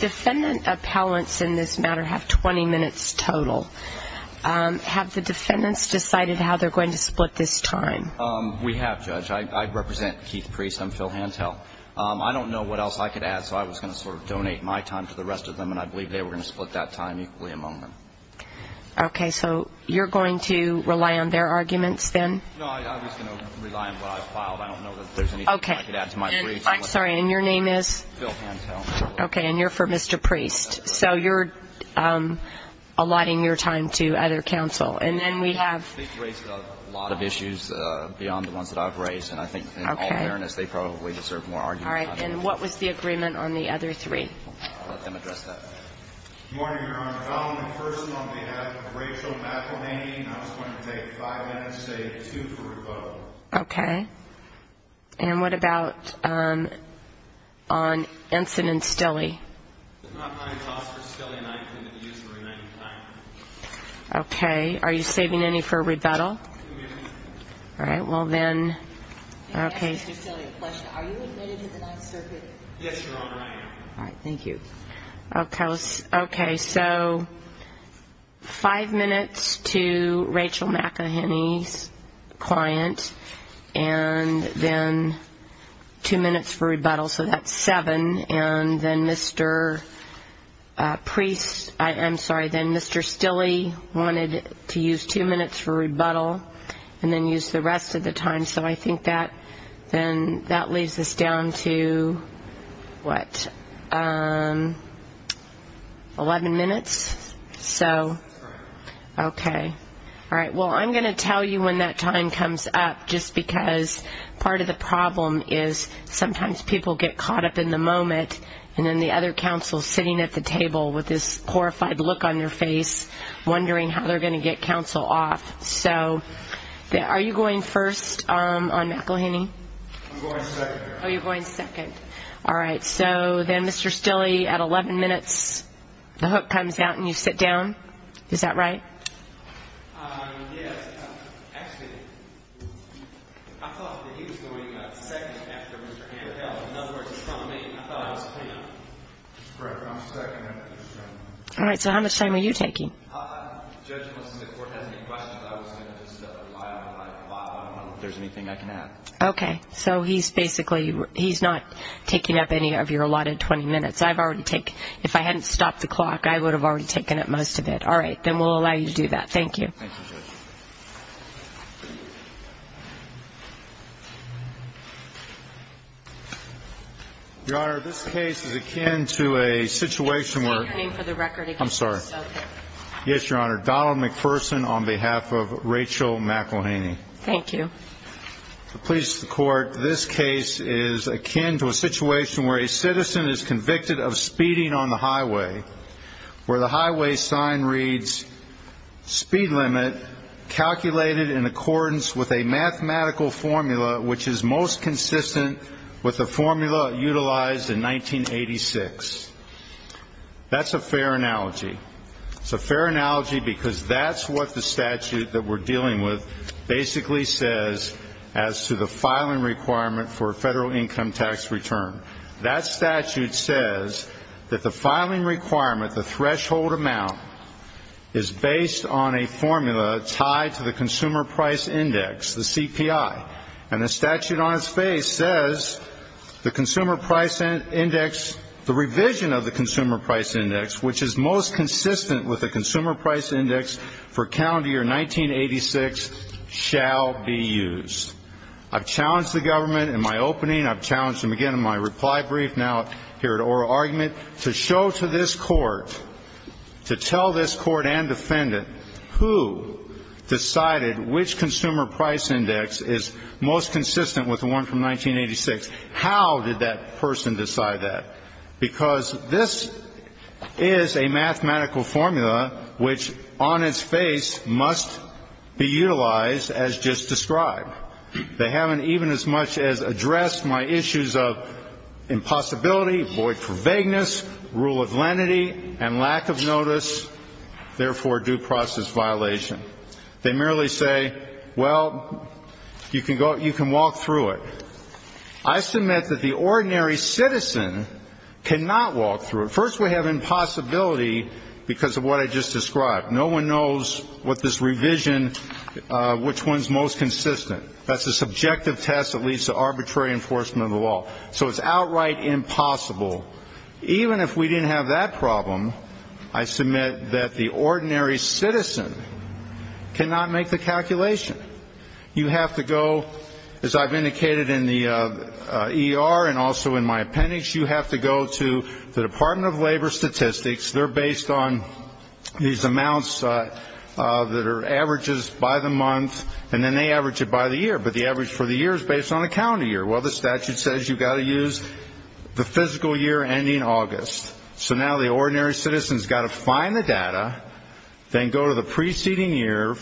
Defendant appellants in this matter have 20 minutes total. Have the defendants decided how they're going to split this time? We have, Judge. I represent Keith Priest. I'm Phil Hantel. I don't know what else I could add, so I was going to sort of donate my time to the rest of them, and I believe they were going to split that time equally among them. Okay, so you're going to rely on their arguments, then? No, I was going to rely on what I filed. I don't know that there's anything I could add to my brief. I'm sorry, and your name is? Phil Hantel. Okay, and you're for Mr. Priest. So you're allotting your time to other counsel. And then we have? They've raised a lot of issues beyond the ones that I've raised, and I think, in all fairness, they probably deserve more argument. All right, and what was the agreement on the other three? I'll let them address that. Good morning, Your Honor. I'm a person on behalf of Rachel McElhaney, and I was going to take five minutes to say two for rebuttal. Okay, and what about on Ensign and Stille? There's not money tossed for Stille, and I intend to use the remaining time. Okay, are you saving any for rebuttal? Two minutes. All right, well, then, okay. Can I ask Mr. Stille a question? Are you admitted to the Ninth Circuit? Yes, Your Honor, I am. All right, thank you. Okay, so five minutes to Rachel McElhaney's client, and then two minutes for rebuttal. So that's seven. And then Mr. Priest, I'm sorry, then Mr. Stille wanted to use two minutes for rebuttal and then use the rest of the time. Okay, so I think that leaves us down to, what, 11 minutes? So, okay. All right, well, I'm going to tell you when that time comes up, just because part of the problem is sometimes people get caught up in the moment and then the other counsel is sitting at the table with this horrified look on their face, wondering how they're going to get counsel off. So are you going first on McElhaney? I'm going second, Your Honor. Oh, you're going second. All right, so then, Mr. Stille, at 11 minutes, the hook comes out and you sit down. Is that right? Yes. Actually, I thought that he was going second after Mr. Handel. In other words, in front of me. I thought it was him. Right, I'm second after Mr. Handel. All right, so how much time are you taking? Judge, unless the court has any questions, I was going to just rely on my file. I don't know if there's anything I can add. Okay, so he's basically, he's not taking up any of your allotted 20 minutes. I've already taken, if I hadn't stopped the clock, I would have already taken up most of it. All right, then we'll allow you to do that. Thank you. Thank you, Judge. Your Honor, this case is akin to a situation where. I'm sorry. Yes, Your Honor. Donald McPherson on behalf of Rachel McElhaney. Thank you. Please, the court, this case is akin to a situation where a citizen is convicted of speeding on the highway, where the highway sign reads, speed limit calculated in accordance with a mathematical formula, which is most consistent with the formula utilized in 1986. That's a fair analogy. It's a fair analogy because that's what the statute that we're dealing with basically says as to the filing requirement for a federal income tax return. That statute says that the filing requirement, the threshold amount, is based on a formula tied to the consumer price index, the CPI. And the statute on its face says the consumer price index, the revision of the consumer price index, which is most consistent with the consumer price index for calendar year 1986, shall be used. I've challenged the government in my opening. I've challenged them again in my reply brief, now here at oral argument, to show to this court, to tell this court and defendant who decided which consumer price index is most consistent with the one from 1986. How did that person decide that? Because this is a mathematical formula which on its face must be utilized as just described. They haven't even as much as addressed my issues of impossibility, void for vagueness, rule of lenity, and lack of notice, therefore due process violation. They merely say, well, you can walk through it. I submit that the ordinary citizen cannot walk through it. First, we have impossibility because of what I just described. No one knows with this revision which one is most consistent. That's a subjective test that leads to arbitrary enforcement of the law. So it's outright impossible. Even if we didn't have that problem, I submit that the ordinary citizen cannot make the calculation. You have to go, as I've indicated in the ER and also in my appendix, you have to go to the Department of Labor Statistics. They're based on these amounts that are averages by the month, and then they average it by the year. But the average for the year is based on the county year. Well, the statute says you've got to use the physical year ending August. So now the ordinary citizen has got to find the data, then go to the preceding year,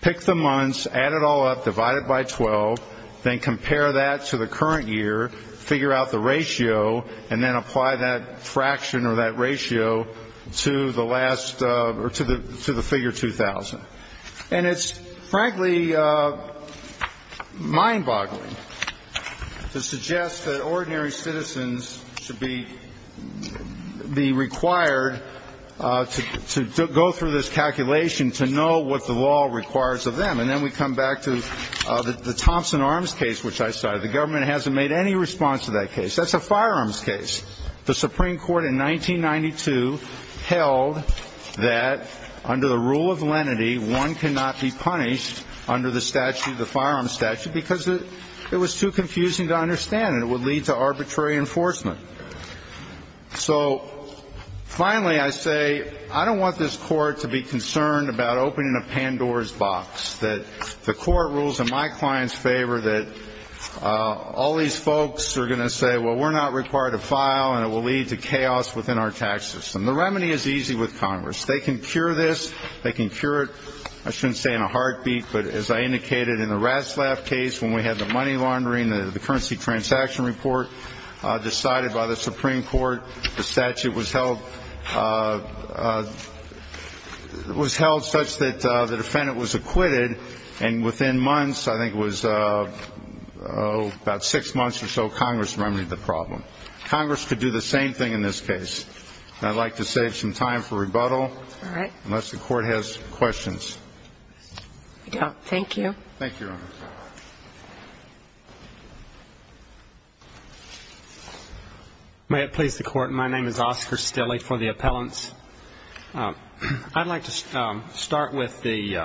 pick the months, add it all up, divide it by 12, then compare that to the current year, figure out the ratio, and then apply that fraction or that ratio to the last or to the figure 2,000. And it's frankly mind-boggling to suggest that ordinary citizens should be required to go through this calculation to know what the law requires of them. And then we come back to the Thompson Arms case, which I cited. The government hasn't made any response to that case. That's a firearms case. The Supreme Court in 1992 held that under the rule of lenity, one cannot be punished under the statute, the firearms statute, because it was too confusing to understand. It would lead to arbitrary enforcement. So finally, I say I don't want this court to be concerned about opening a Pandora's box, that the court rules in my client's favor that all these folks are going to say, well, we're not required to file, and it will lead to chaos within our tax system. The remedy is easy with Congress. They can cure this. They can cure it, I shouldn't say in a heartbeat, but as I indicated in the Ratzlaff case when we had the money laundering, the currency transaction report decided by the Supreme Court, the statute was held such that the defendant was acquitted, and within months, I think it was about six months or so, Congress remedied the problem. Congress could do the same thing in this case. And I'd like to save some time for rebuttal. All right. Unless the court has questions. I don't. Thank you. Thank you, Your Honor. May it please the Court. My name is Oscar Stille for the appellants. I'd like to start with the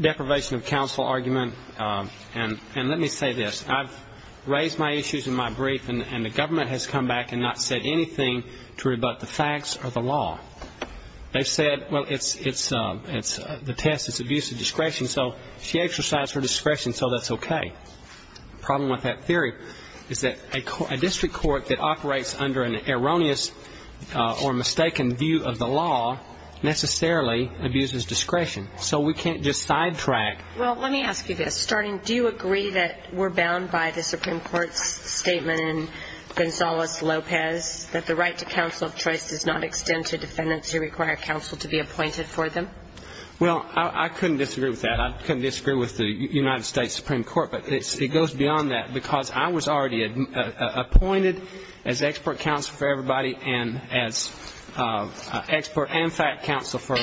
deprivation of counsel argument, and let me say this. I've raised my issues in my brief, and the government has come back and not said anything to rebut the facts or the law. They said, well, it's the test, it's abuse of discretion, so she exercised her discretion, so that's okay. The problem with that theory is that a district court that operates under an erroneous or mistaken view of the law necessarily abuses discretion, so we can't just sidetrack. Well, let me ask you this. Starting, do you agree that we're bound by the Supreme Court's statement in Gonzales-Lopez that the right to counsel of choice does not extend to defendants who require counsel to be appointed for them? Well, I couldn't disagree with that. I couldn't disagree with the United States Supreme Court, but it goes beyond that, because I was already appointed as expert counsel for everybody and as expert and fact counsel for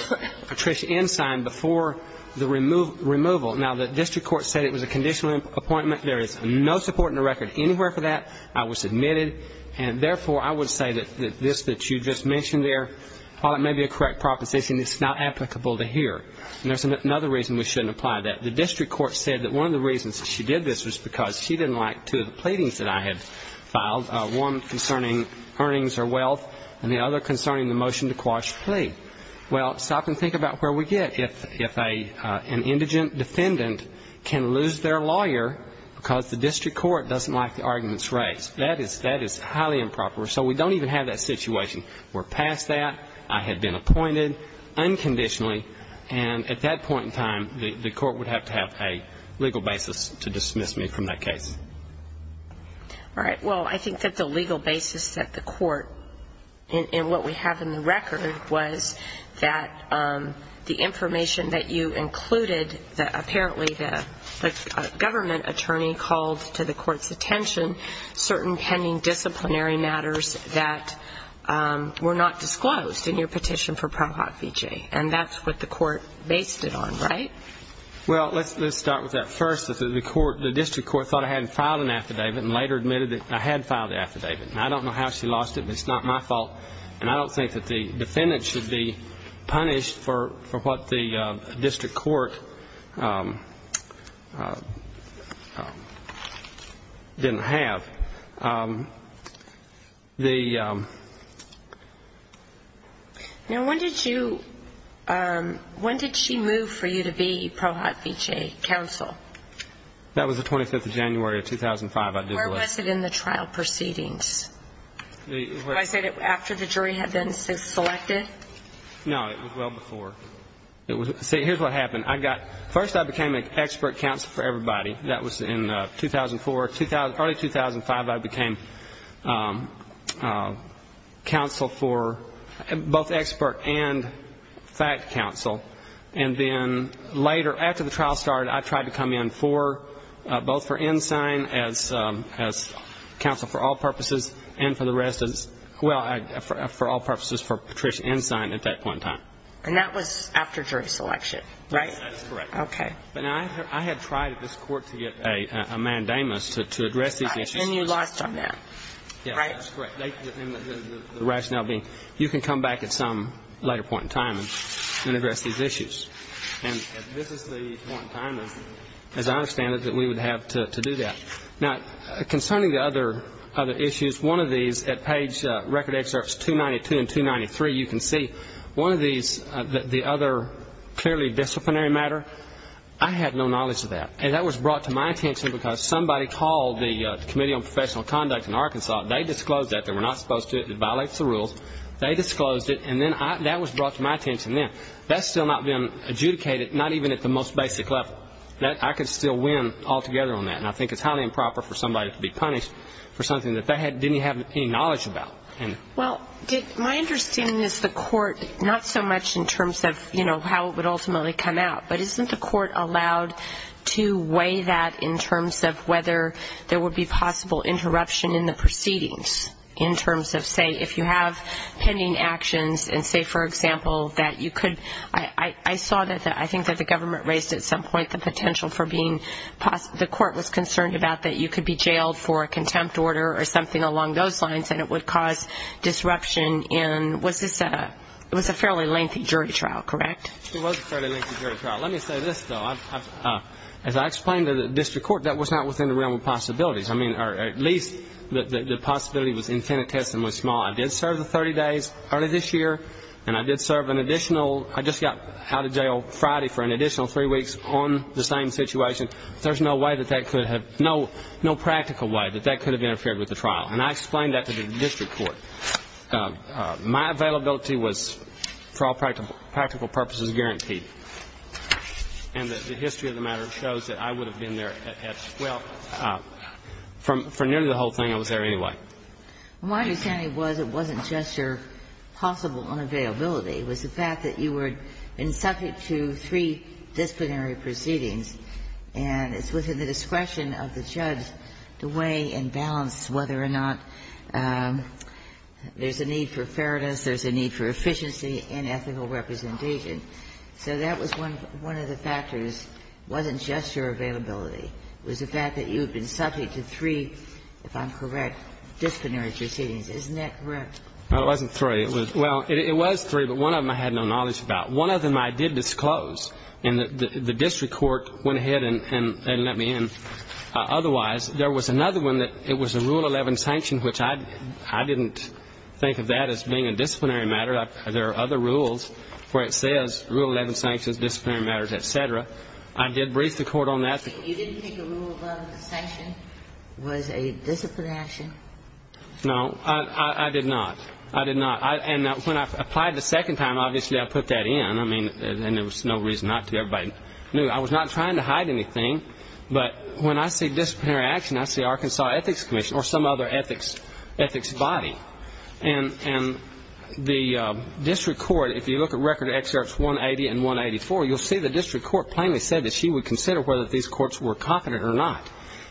Patricia Ensign before the removal. Now, the district court said it was a conditional appointment. There is no support in the record anywhere for that. I was admitted, and, therefore, I would say that this that you just mentioned there, while it may be a correct proposition, it's not applicable to here. And there's another reason we shouldn't apply that. The district court said that one of the reasons that she did this was because she didn't like two of the pleadings that I had filed, one concerning earnings or wealth and the other concerning the motion to quash the plea. Well, stop and think about where we get if an indigent defendant can lose their lawyer because the district court doesn't like the arguments raised. That is highly improper. So we don't even have that situation. We're past that. I had been appointed unconditionally, and at that point in time, the court would have to have a legal basis to dismiss me from that case. All right. Well, I think that the legal basis that the court, and what we have in the record, was that the information that you included, that apparently the government attorney called to the court's attention, certain pending disciplinary matters that were not disclosed in your petition for Pro Hot Fiji. And that's what the court based it on, right? Well, let's start with that first. The district court thought I hadn't filed an affidavit and later admitted that I had filed the affidavit. I don't know how she lost it, but it's not my fault. And I don't think that the defendant should be punished for what the district court didn't have. Now, when did she move for you to be Pro Hot Fiji counsel? That was the 25th of January of 2005. Where was it in the trial proceedings? Did I say that after the jury had been selected? No, it was well before. See, here's what happened. First I became an expert counsel for everybody. That was in 2004. Early 2005 I became counsel for both expert and fact counsel. And then later, after the trial started, I tried to come in for both for Ensign as counsel for all purposes and for the rest as, well, for all purposes for Patricia Ensign at that point in time. And that was after jury selection, right? That's correct. Okay. But I had tried at this court to get a mandamus to address these issues. And you lost on that, right? That's correct. The rationale being you can come back at some later point in time and address these issues. And this is the point in time, as I understand it, that we would have to do that. Now, concerning the other issues, one of these at page record excerpts 292 and 293 you can see, one of these, the other clearly disciplinary matter, I had no knowledge of that. And that was brought to my attention because somebody called the Committee on Professional Conduct in Arkansas. They disclosed that. They were not supposed to. It violates the rules. They disclosed it. And then that was brought to my attention then. That's still not been adjudicated, not even at the most basic level. I could still win altogether on that. And I think it's highly improper for somebody to be punished for something that they didn't have any knowledge about. Well, my understanding is the court, not so much in terms of, you know, how it would ultimately come out, but isn't the court allowed to weigh that in terms of whether there would be possible interruption in the proceedings in terms of, say, if you have pending actions and, say, for example, that you could ‑‑ I saw that I think that the government raised at some point the potential for being ‑‑ the court was concerned about that you could be jailed for a contempt order or something along those lines and it would cause disruption in ‑‑ was this a ‑‑ it was a fairly lengthy jury trial, correct? It was a fairly lengthy jury trial. Let me say this, though. As I explained to the district court, that was not within the realm of possibilities. I mean, at least the possibility was infinitesimal and small. I did serve the 30 days early this year and I did serve an additional ‑‑ I just got out of jail Friday for an additional three weeks on the same situation. There's no way that that could have ‑‑ no practical way that that could have interfered with the trial. And I explained that to the district court. My availability was, for all practical purposes, guaranteed. And the history of the matter shows that I would have been there at 12. For nearly the whole thing, I was there anyway. My understanding was it wasn't just your possible unavailability. It was the fact that you had been subject to three disciplinary proceedings and it's within the discretion of the judge to weigh and balance whether or not there's a need for fairness, there's a need for efficiency and ethical representation. So that was one of the factors. It wasn't just your availability. It was the fact that you had been subject to three, if I'm correct, disciplinary proceedings. Isn't that correct? No, it wasn't three. Well, it was three, but one of them I had no knowledge about. One of them I did disclose and the district court went ahead and let me in. Otherwise, there was another one that it was a Rule 11 sanction, which I didn't think of that as being a disciplinary matter. There are other rules where it says Rule 11 sanctions, disciplinary matters, et cetera. I did brief the court on that. You didn't think the Rule 11 sanction was a disciplinary action? No, I did not. I did not. And when I applied the second time, obviously I put that in. I mean, and there was no reason not to. Everybody knew. I was not trying to hide anything. But when I see disciplinary action, I see Arkansas Ethics Commission or some other ethics body. And the district court, if you look at Record Excerpts 180 and 184, you'll see the district court plainly said that she would consider whether these courts were confident or not.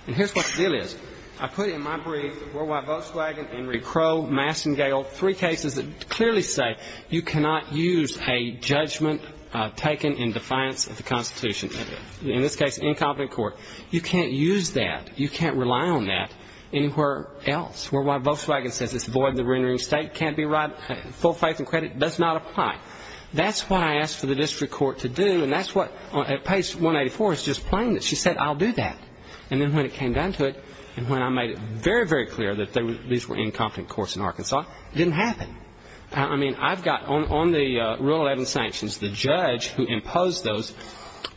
And here's what the deal is. I put in my brief Worldwide Volkswagen, Henry Crow, Massengale, three cases that clearly say you cannot use a judgment taken in defiance of the Constitution. In this case, incompetent court. You can't use that. You can't rely on that anywhere else. Worldwide Volkswagen says this void in the rendering state can't be right. Full faith and credit does not apply. That's what I asked for the district court to do, and that's what, at page 184, it's just plain that she said I'll do that. And then when it came down to it, and when I made it very, very clear that these were incompetent courts in Arkansas, it didn't happen. I mean, I've got on the Rule 11 sanctions, the judge who imposed those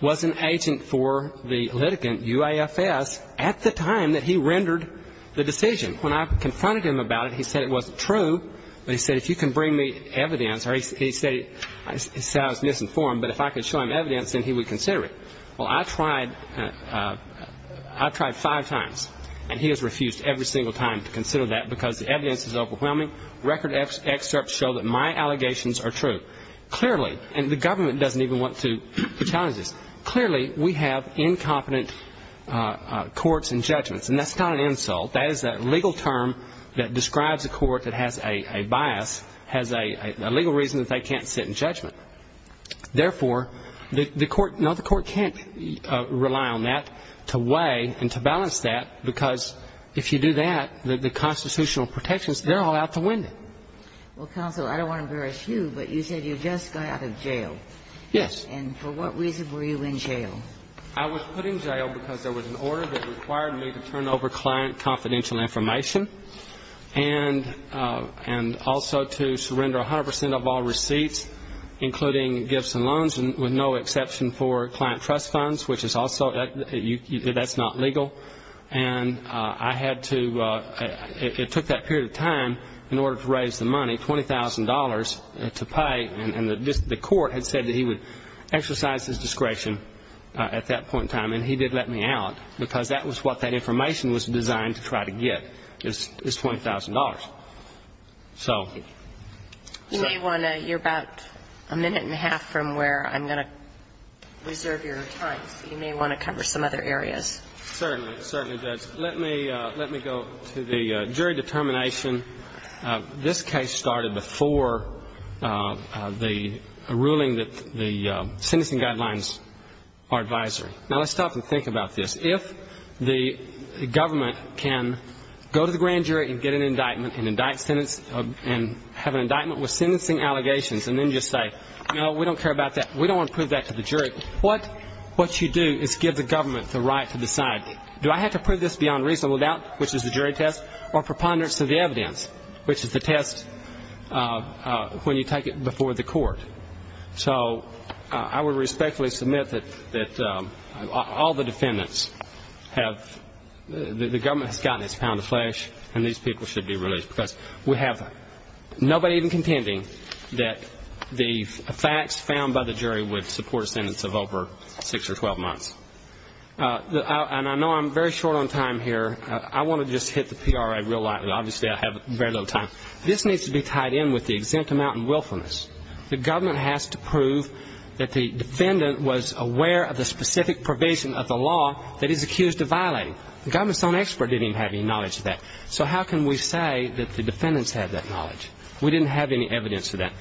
was an agent for the litigant, UAFS, at the time that he rendered the decision. When I confronted him about it, he said it wasn't true, but he said if you can bring me evidence, or he said I was misinformed, but if I could show him evidence, then he would consider it. Well, I tried five times, and he has refused every single time to consider that because the evidence is overwhelming. Record excerpts show that my allegations are true. Clearly, and the government doesn't even want to challenge this, clearly we have incompetent courts and judgments. And that's not an insult. That is a legal term that describes a court that has a bias, has a legal reason that they can't sit in judgment. Therefore, no, the court can't rely on that to weigh and to balance that, because if you do that, the constitutional protections, they're all out the window. Well, counsel, I don't want to embarrass you, but you said you just got out of jail. Yes. And for what reason were you in jail? I was put in jail because there was an order that required me to turn over client confidential information and also to surrender 100 percent of all receipts, including gifts and loans, with no exception for client trust funds, which is also, that's not legal. And I had to, it took that period of time in order to raise the money, $20,000 to pay, and the court had said that he would exercise his discretion at that point in time, and he did let me out because that was what that information was designed to try to get, is $20,000. So. You may want to, you're about a minute and a half from where I'm going to reserve your time, so you may want to cover some other areas. Certainly. It certainly does. Let me go to the jury determination. This case started before the ruling that the sentencing guidelines are advisory. Now, let's stop and think about this. If the government can go to the grand jury and get an indictment and have an indictment with sentencing allegations and then just say, no, we don't care about that, we don't want to prove that to the jury, what you do is give the government the right to decide, do I have to prove this beyond reasonable doubt, which is the jury test, or preponderance of the evidence, which is the test when you take it before the court. So I would respectfully submit that all the defendants have, the government has gotten its pound of flesh, and these people should be released because we have nobody even contending that the facts found by the jury would support a sentence of over 6 or 12 months. And I know I'm very short on time here. I want to just hit the PRA real light, but obviously I have very little time. This needs to be tied in with the exempt amount and willfulness. The government has to prove that the defendant was aware of the specific provision of the law that he's accused of violating. The government's own expert didn't even have any knowledge of that. So how can we say that the defendants have that knowledge? We didn't have any evidence of that.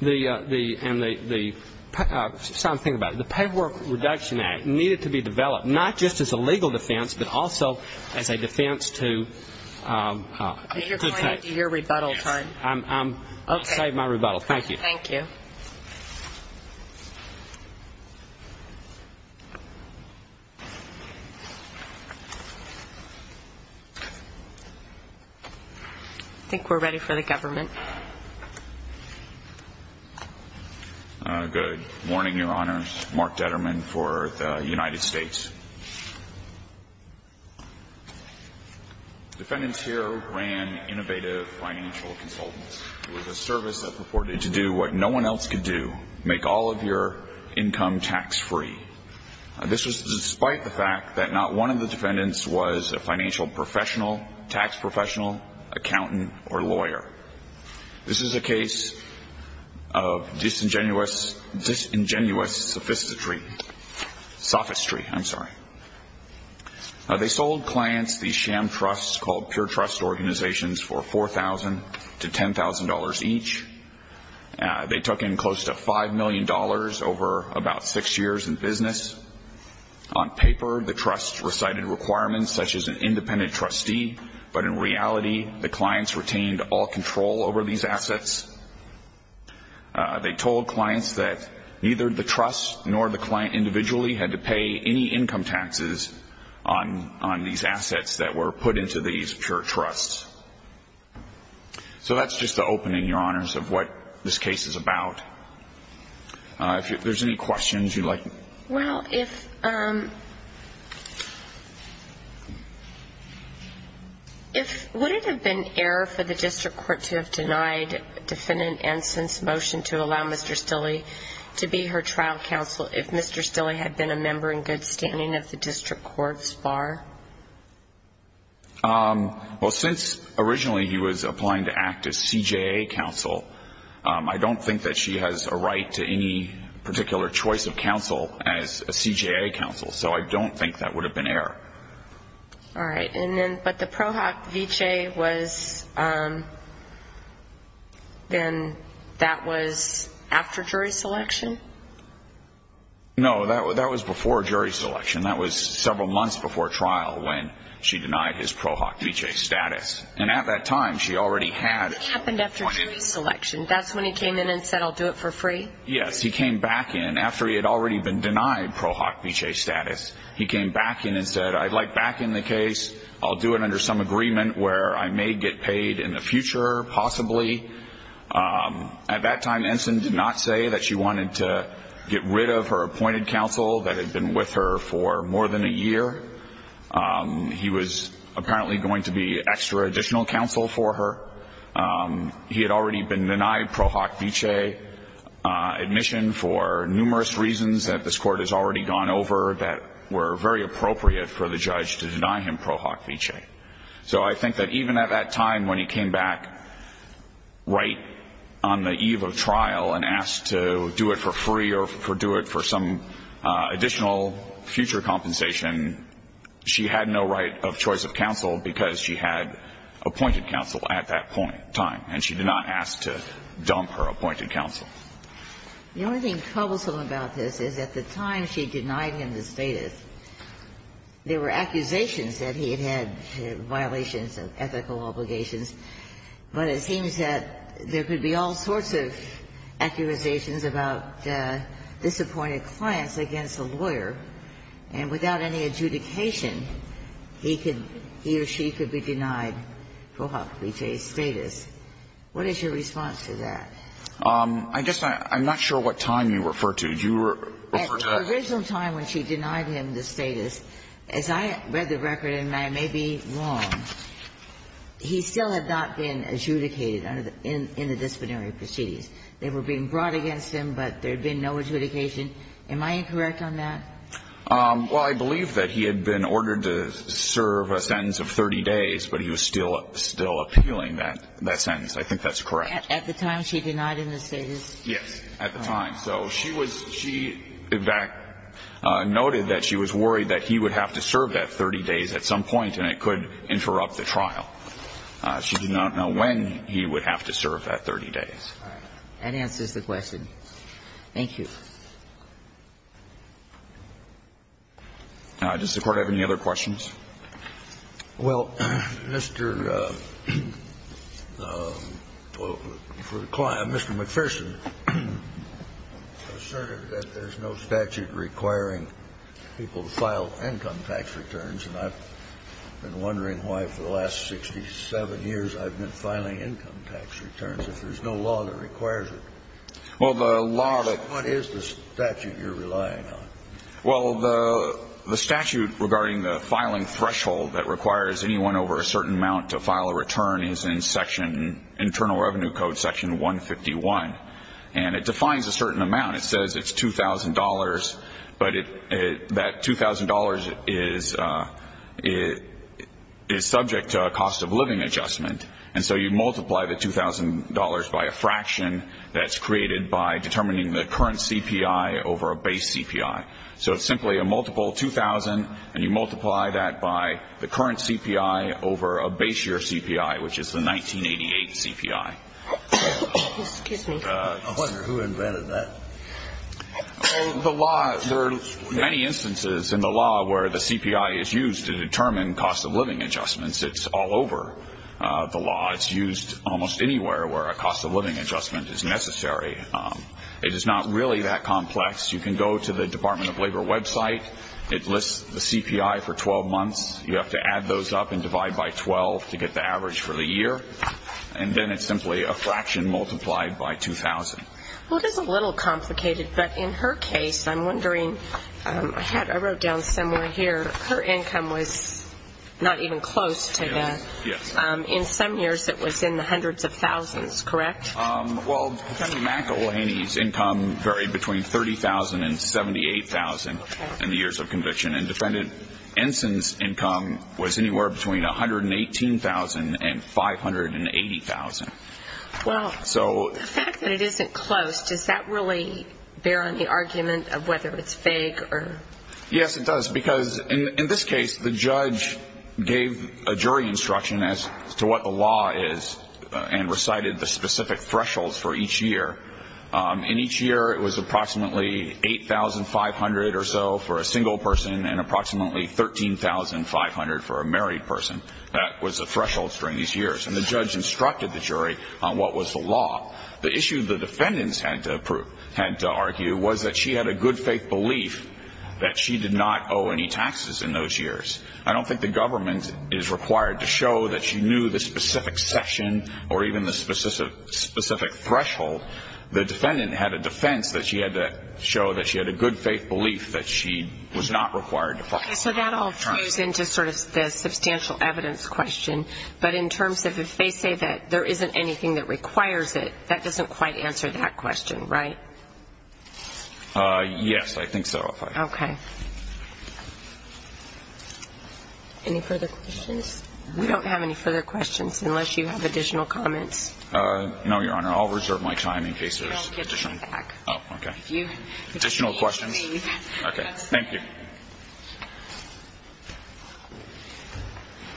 And the paperwork reduction act needed to be developed, not just as a legal defense, but also as a defense to take. You're going into your rebuttal time. I'll save my rebuttal. Thank you. Thank you. I think we're ready for the government. Good morning, Your Honors. Mark Detterman for the United States. Defendants here ran innovative financial consultants. It was a service that purported to do what no one else could do, make all of your income tax-free. This was despite the fact that not one of the defendants was a financial professional, tax professional, accountant, or lawyer. This is a case of disingenuous sophistry. Sophistry, I'm sorry. They sold clients these sham trusts called pure trust organizations for $4,000 to $10,000 each. They took in close to $5 million over about six years in business. On paper, the trusts recited requirements such as an independent trustee, but in reality, the clients retained all control over these assets. They told clients that neither the trust nor the client individually had to pay any income taxes on these assets that were put into these pure trusts. So that's just the opening, Your Honors, of what this case is about. If there's any questions you'd like. Well, would it have been error for the district court to have denied defendant Ensign's motion to allow Mr. Stille to be her trial counsel if Mr. Stille had been a member in good standing of the district court's bar? Well, since originally he was applying to act as CJA counsel, I don't think that she has a right to any particular choice of counsel as a CJA counsel. So I don't think that would have been error. All right. But the Pro Hoc Vitae was then that was after jury selection? No, that was before jury selection. That was several months before trial when she denied his Pro Hoc Vitae status. And at that time she already had. It happened after jury selection. That's when he came in and said, I'll do it for free? Yes, he came back in after he had already been denied Pro Hoc Vitae status. He came back in and said, I'd like back in the case. I'll do it under some agreement where I may get paid in the future, possibly. At that time, Ensign did not say that she wanted to get rid of her appointed counsel that had been with her for more than a year. He was apparently going to be extra additional counsel for her. He had already been denied Pro Hoc Vitae admission for numerous reasons that this Court has already gone over that were very appropriate for the judge to deny him Pro Hoc Vitae. So I think that even at that time when he came back right on the eve of trial and asked to do it for free or do it for some additional future compensation, she had no right of choice of counsel because she had appointed counsel at that point in time, and she did not ask to dump her appointed counsel. The only thing troublesome about this is at the time she denied him the status, there were accusations that he had had violations of ethical obligations. But it seems that there could be all sorts of accusations about disappointed clients against a lawyer, and without any adjudication, he could be or she could be denied Pro Hoc Vitae's status. What is your response to that? I guess I'm not sure what time you refer to. Do you refer to that? At the original time when she denied him the status, as I read the record, and I may be wrong, he still had not been adjudicated in the disciplinary proceedings. They were being brought against him, but there had been no adjudication. Am I incorrect on that? Well, I believe that he had been ordered to serve a sentence of 30 days, but he was still appealing that sentence. I think that's correct. At the time she denied him the status? Yes, at the time. So she was – she, in fact, noted that she was worried that he would have to serve that 30 days at some point, and it could interrupt the trial. She did not know when he would have to serve that 30 days. All right. That answers the question. Thank you. Does the Court have any other questions? Well, Mr. McPherson asserted that there's no statute requiring people to file income tax returns, and I've been wondering why for the last 67 years I've been filing income tax returns if there's no law that requires it. Well, the law that – What is the statute you're relying on? Well, the statute regarding the filing threshold that requires anyone over a certain amount to file a return is in section – Internal Revenue Code section 151. And it defines a certain amount. It says it's $2,000, but that $2,000 is subject to a cost-of-living adjustment. And so you multiply the $2,000 by a fraction that's created by determining the current CPI over a base CPI. So it's simply a multiple 2,000, and you multiply that by the current CPI over a base year CPI, which is the 1988 CPI. Excuse me. I wonder who invented that. Well, the law – there are many instances in the law where the CPI is used to determine cost-of-living adjustments. It's all over the law. It's used almost anywhere where a cost-of-living adjustment is necessary. It is not really that complex. You can go to the Department of Labor website. It lists the CPI for 12 months. You have to add those up and divide by 12 to get the average for the year. And then it's simply a fraction multiplied by 2,000. Well, it is a little complicated, but in her case, I'm wondering – I wrote down somewhere here – her income was not even close to that. Yes. In some years, it was in the hundreds of thousands, correct? Well, Defendant McElhaney's income varied between $30,000 and $78,000 in the years of conviction. And Defendant Ensign's income was anywhere between $118,000 and $580,000. Well, the fact that it isn't close, does that really bear on the argument of whether it's vague or – Yes, it does. Because in this case, the judge gave a jury instruction as to what the law is and recited the specific thresholds for each year. And each year, it was approximately $8,500 or so for a single person and approximately $13,500 for a married person. That was the thresholds during these years. And the judge instructed the jury on what was the law. The issue the defendants had to argue was that she had a good faith belief that she did not owe any taxes in those years. I don't think the government is required to show that she knew the specific section or even the specific threshold. The defendant had a defense that she had to show that she had a good faith belief that she was not required to pay. So that all flows into sort of the substantial evidence question. But in terms of if they say that there isn't anything that requires it, that doesn't quite answer that question, right? Yes, I think so. Okay. Any further questions? We don't have any further questions unless you have additional comments. No, Your Honor. I'll reserve my time in case there's additional. Oh, okay. Additional questions? Okay. Thank you.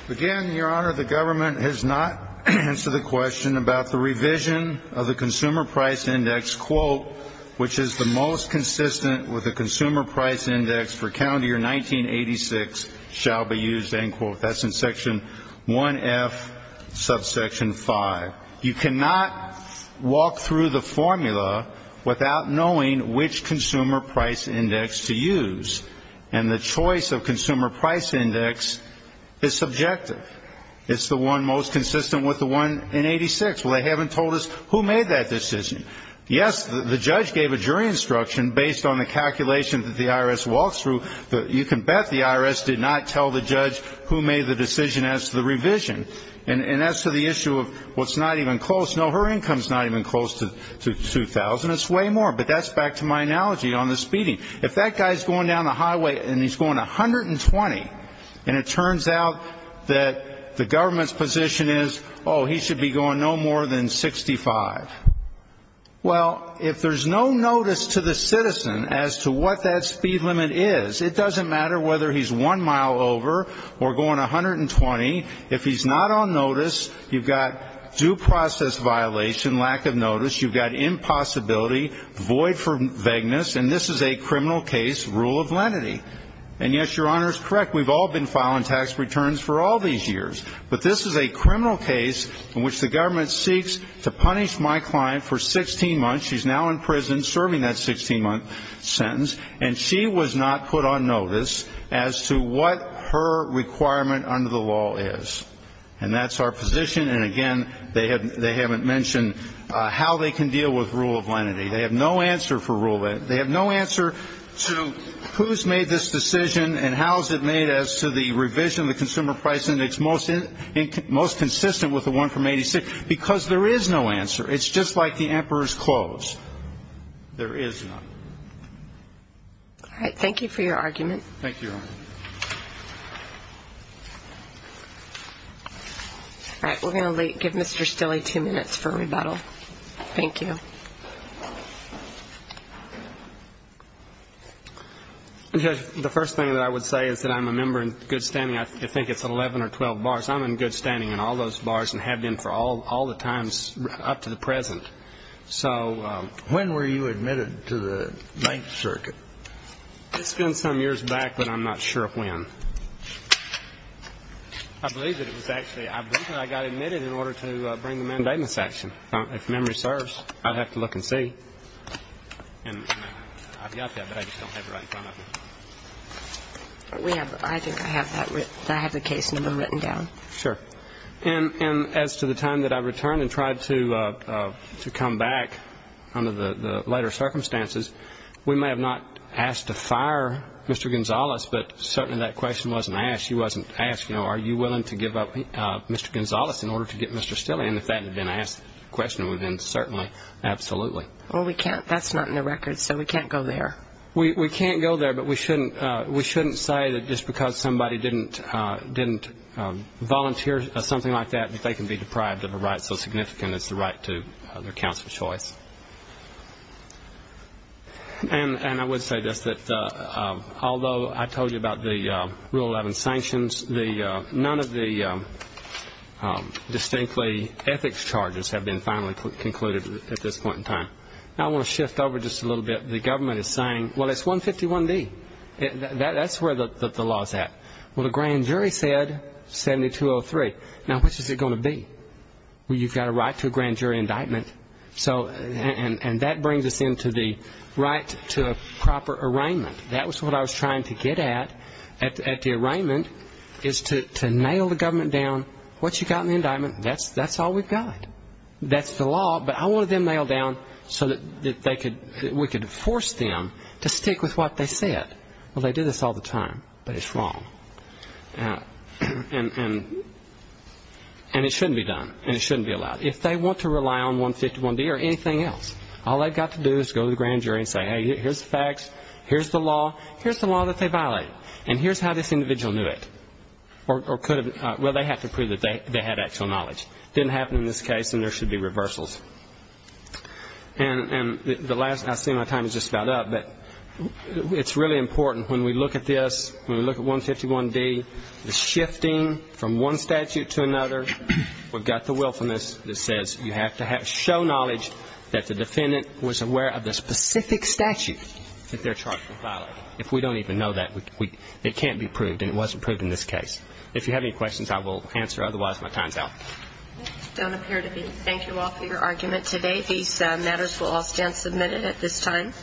Again, Your Honor, the government has not answered the question about the revision of the Consumer Price Index, quote, which is the most consistent with the Consumer Price Index for County Year 1986 shall be used, end quote. That's in Section 1F, Subsection 5. You cannot walk through the formula without knowing which Consumer Price Index to use. And the choice of Consumer Price Index is subjective. It's the one most consistent with the one in 1986. Well, they haven't told us who made that decision. Yes, the judge gave a jury instruction based on the calculation that the IRS walked through. You can bet the IRS did not tell the judge who made the decision as to the revision. And as to the issue of what's not even close, no, her income is not even close to 2,000. It's way more. But that's back to my analogy on the speeding. If that guy is going down the highway and he's going 120 and it turns out that the government's position is, oh, he should be going no more than 65, well, if there's no notice to the matter whether he's one mile over or going 120, if he's not on notice, you've got due process violation, lack of notice, you've got impossibility, void for vagueness, and this is a criminal case, rule of lenity. And, yes, Your Honor is correct. We've all been filing tax returns for all these years. But this is a criminal case in which the government seeks to punish my client for 16 months. She's now in prison serving that 16-month sentence. And she was not put on notice as to what her requirement under the law is. And that's our position. And, again, they haven't mentioned how they can deal with rule of lenity. They have no answer for rule of lenity. They have no answer to who's made this decision and how is it made as to the revision of the Consumer Price Index, most consistent with the one from 1986, because there is no answer. It's just like the emperor's clothes. There is none. All right. Thank you for your argument. Thank you, Your Honor. All right. We're going to give Mr. Stille two minutes for rebuttal. Thank you. Judge, the first thing that I would say is that I'm a member in good standing. I think it's 11 or 12 bars. I'm in good standing in all those bars and have been for all the times up to the present. When were you admitted to the Ninth Circuit? It's been some years back, but I'm not sure when. I believe that I got admitted in order to bring the mandatement section. If memory serves, I'd have to look and see. I've got that, but I just don't have it right in front of me. I think I have the case number written down. Sure. And as to the time that I returned and tried to come back under the later circumstances, we may have not asked to fire Mr. Gonzales, but certainly that question wasn't asked. He wasn't asked, you know, are you willing to give up Mr. Gonzales in order to get Mr. Stille in? If that had been asked, the question would have been certainly, absolutely. Well, we can't. That's not in the records, so we can't go there. We can't go there, but we shouldn't say that just because somebody didn't volunteer something like that, that they can be deprived of a right so significant as the right to their counsel's choice. And I would say this, that although I told you about the Rule 11 sanctions, none of the distinctly ethics charges have been finally concluded at this point in time. Now I want to shift over just a little bit. The government is saying, well, it's 151D. That's where the law is at. Well, the grand jury said 7203. Now which is it going to be? Well, you've got a right to a grand jury indictment, and that brings us into the right to a proper arraignment. That was what I was trying to get at, at the arraignment, is to nail the government down. What you got in the indictment, that's all we've got. That's the law, but I wanted them nailed down so that we could force them to stick with what they said. Well, they do this all the time, but it's wrong. And it shouldn't be done, and it shouldn't be allowed. If they want to rely on 151D or anything else, all they've got to do is go to the grand jury and say, hey, here's the facts, here's the law, here's the law that they violated, and here's how this individual knew it. Well, they have to prove that they had actual knowledge. It didn't happen in this case, and there should be reversals. And I see my time is just about up, but it's really important, when we look at this, when we look at 151D, the shifting from one statute to another, we've got the willfulness that says you have to show knowledge that the defendant was aware of the specific statute that they're charged with violating. If we don't even know that, it can't be proved, and it wasn't proved in this case. If you have any questions, I will answer. Otherwise, my time is out. Don't appear to be. Thank you all for your argument today. These matters will all stand submitted at this time.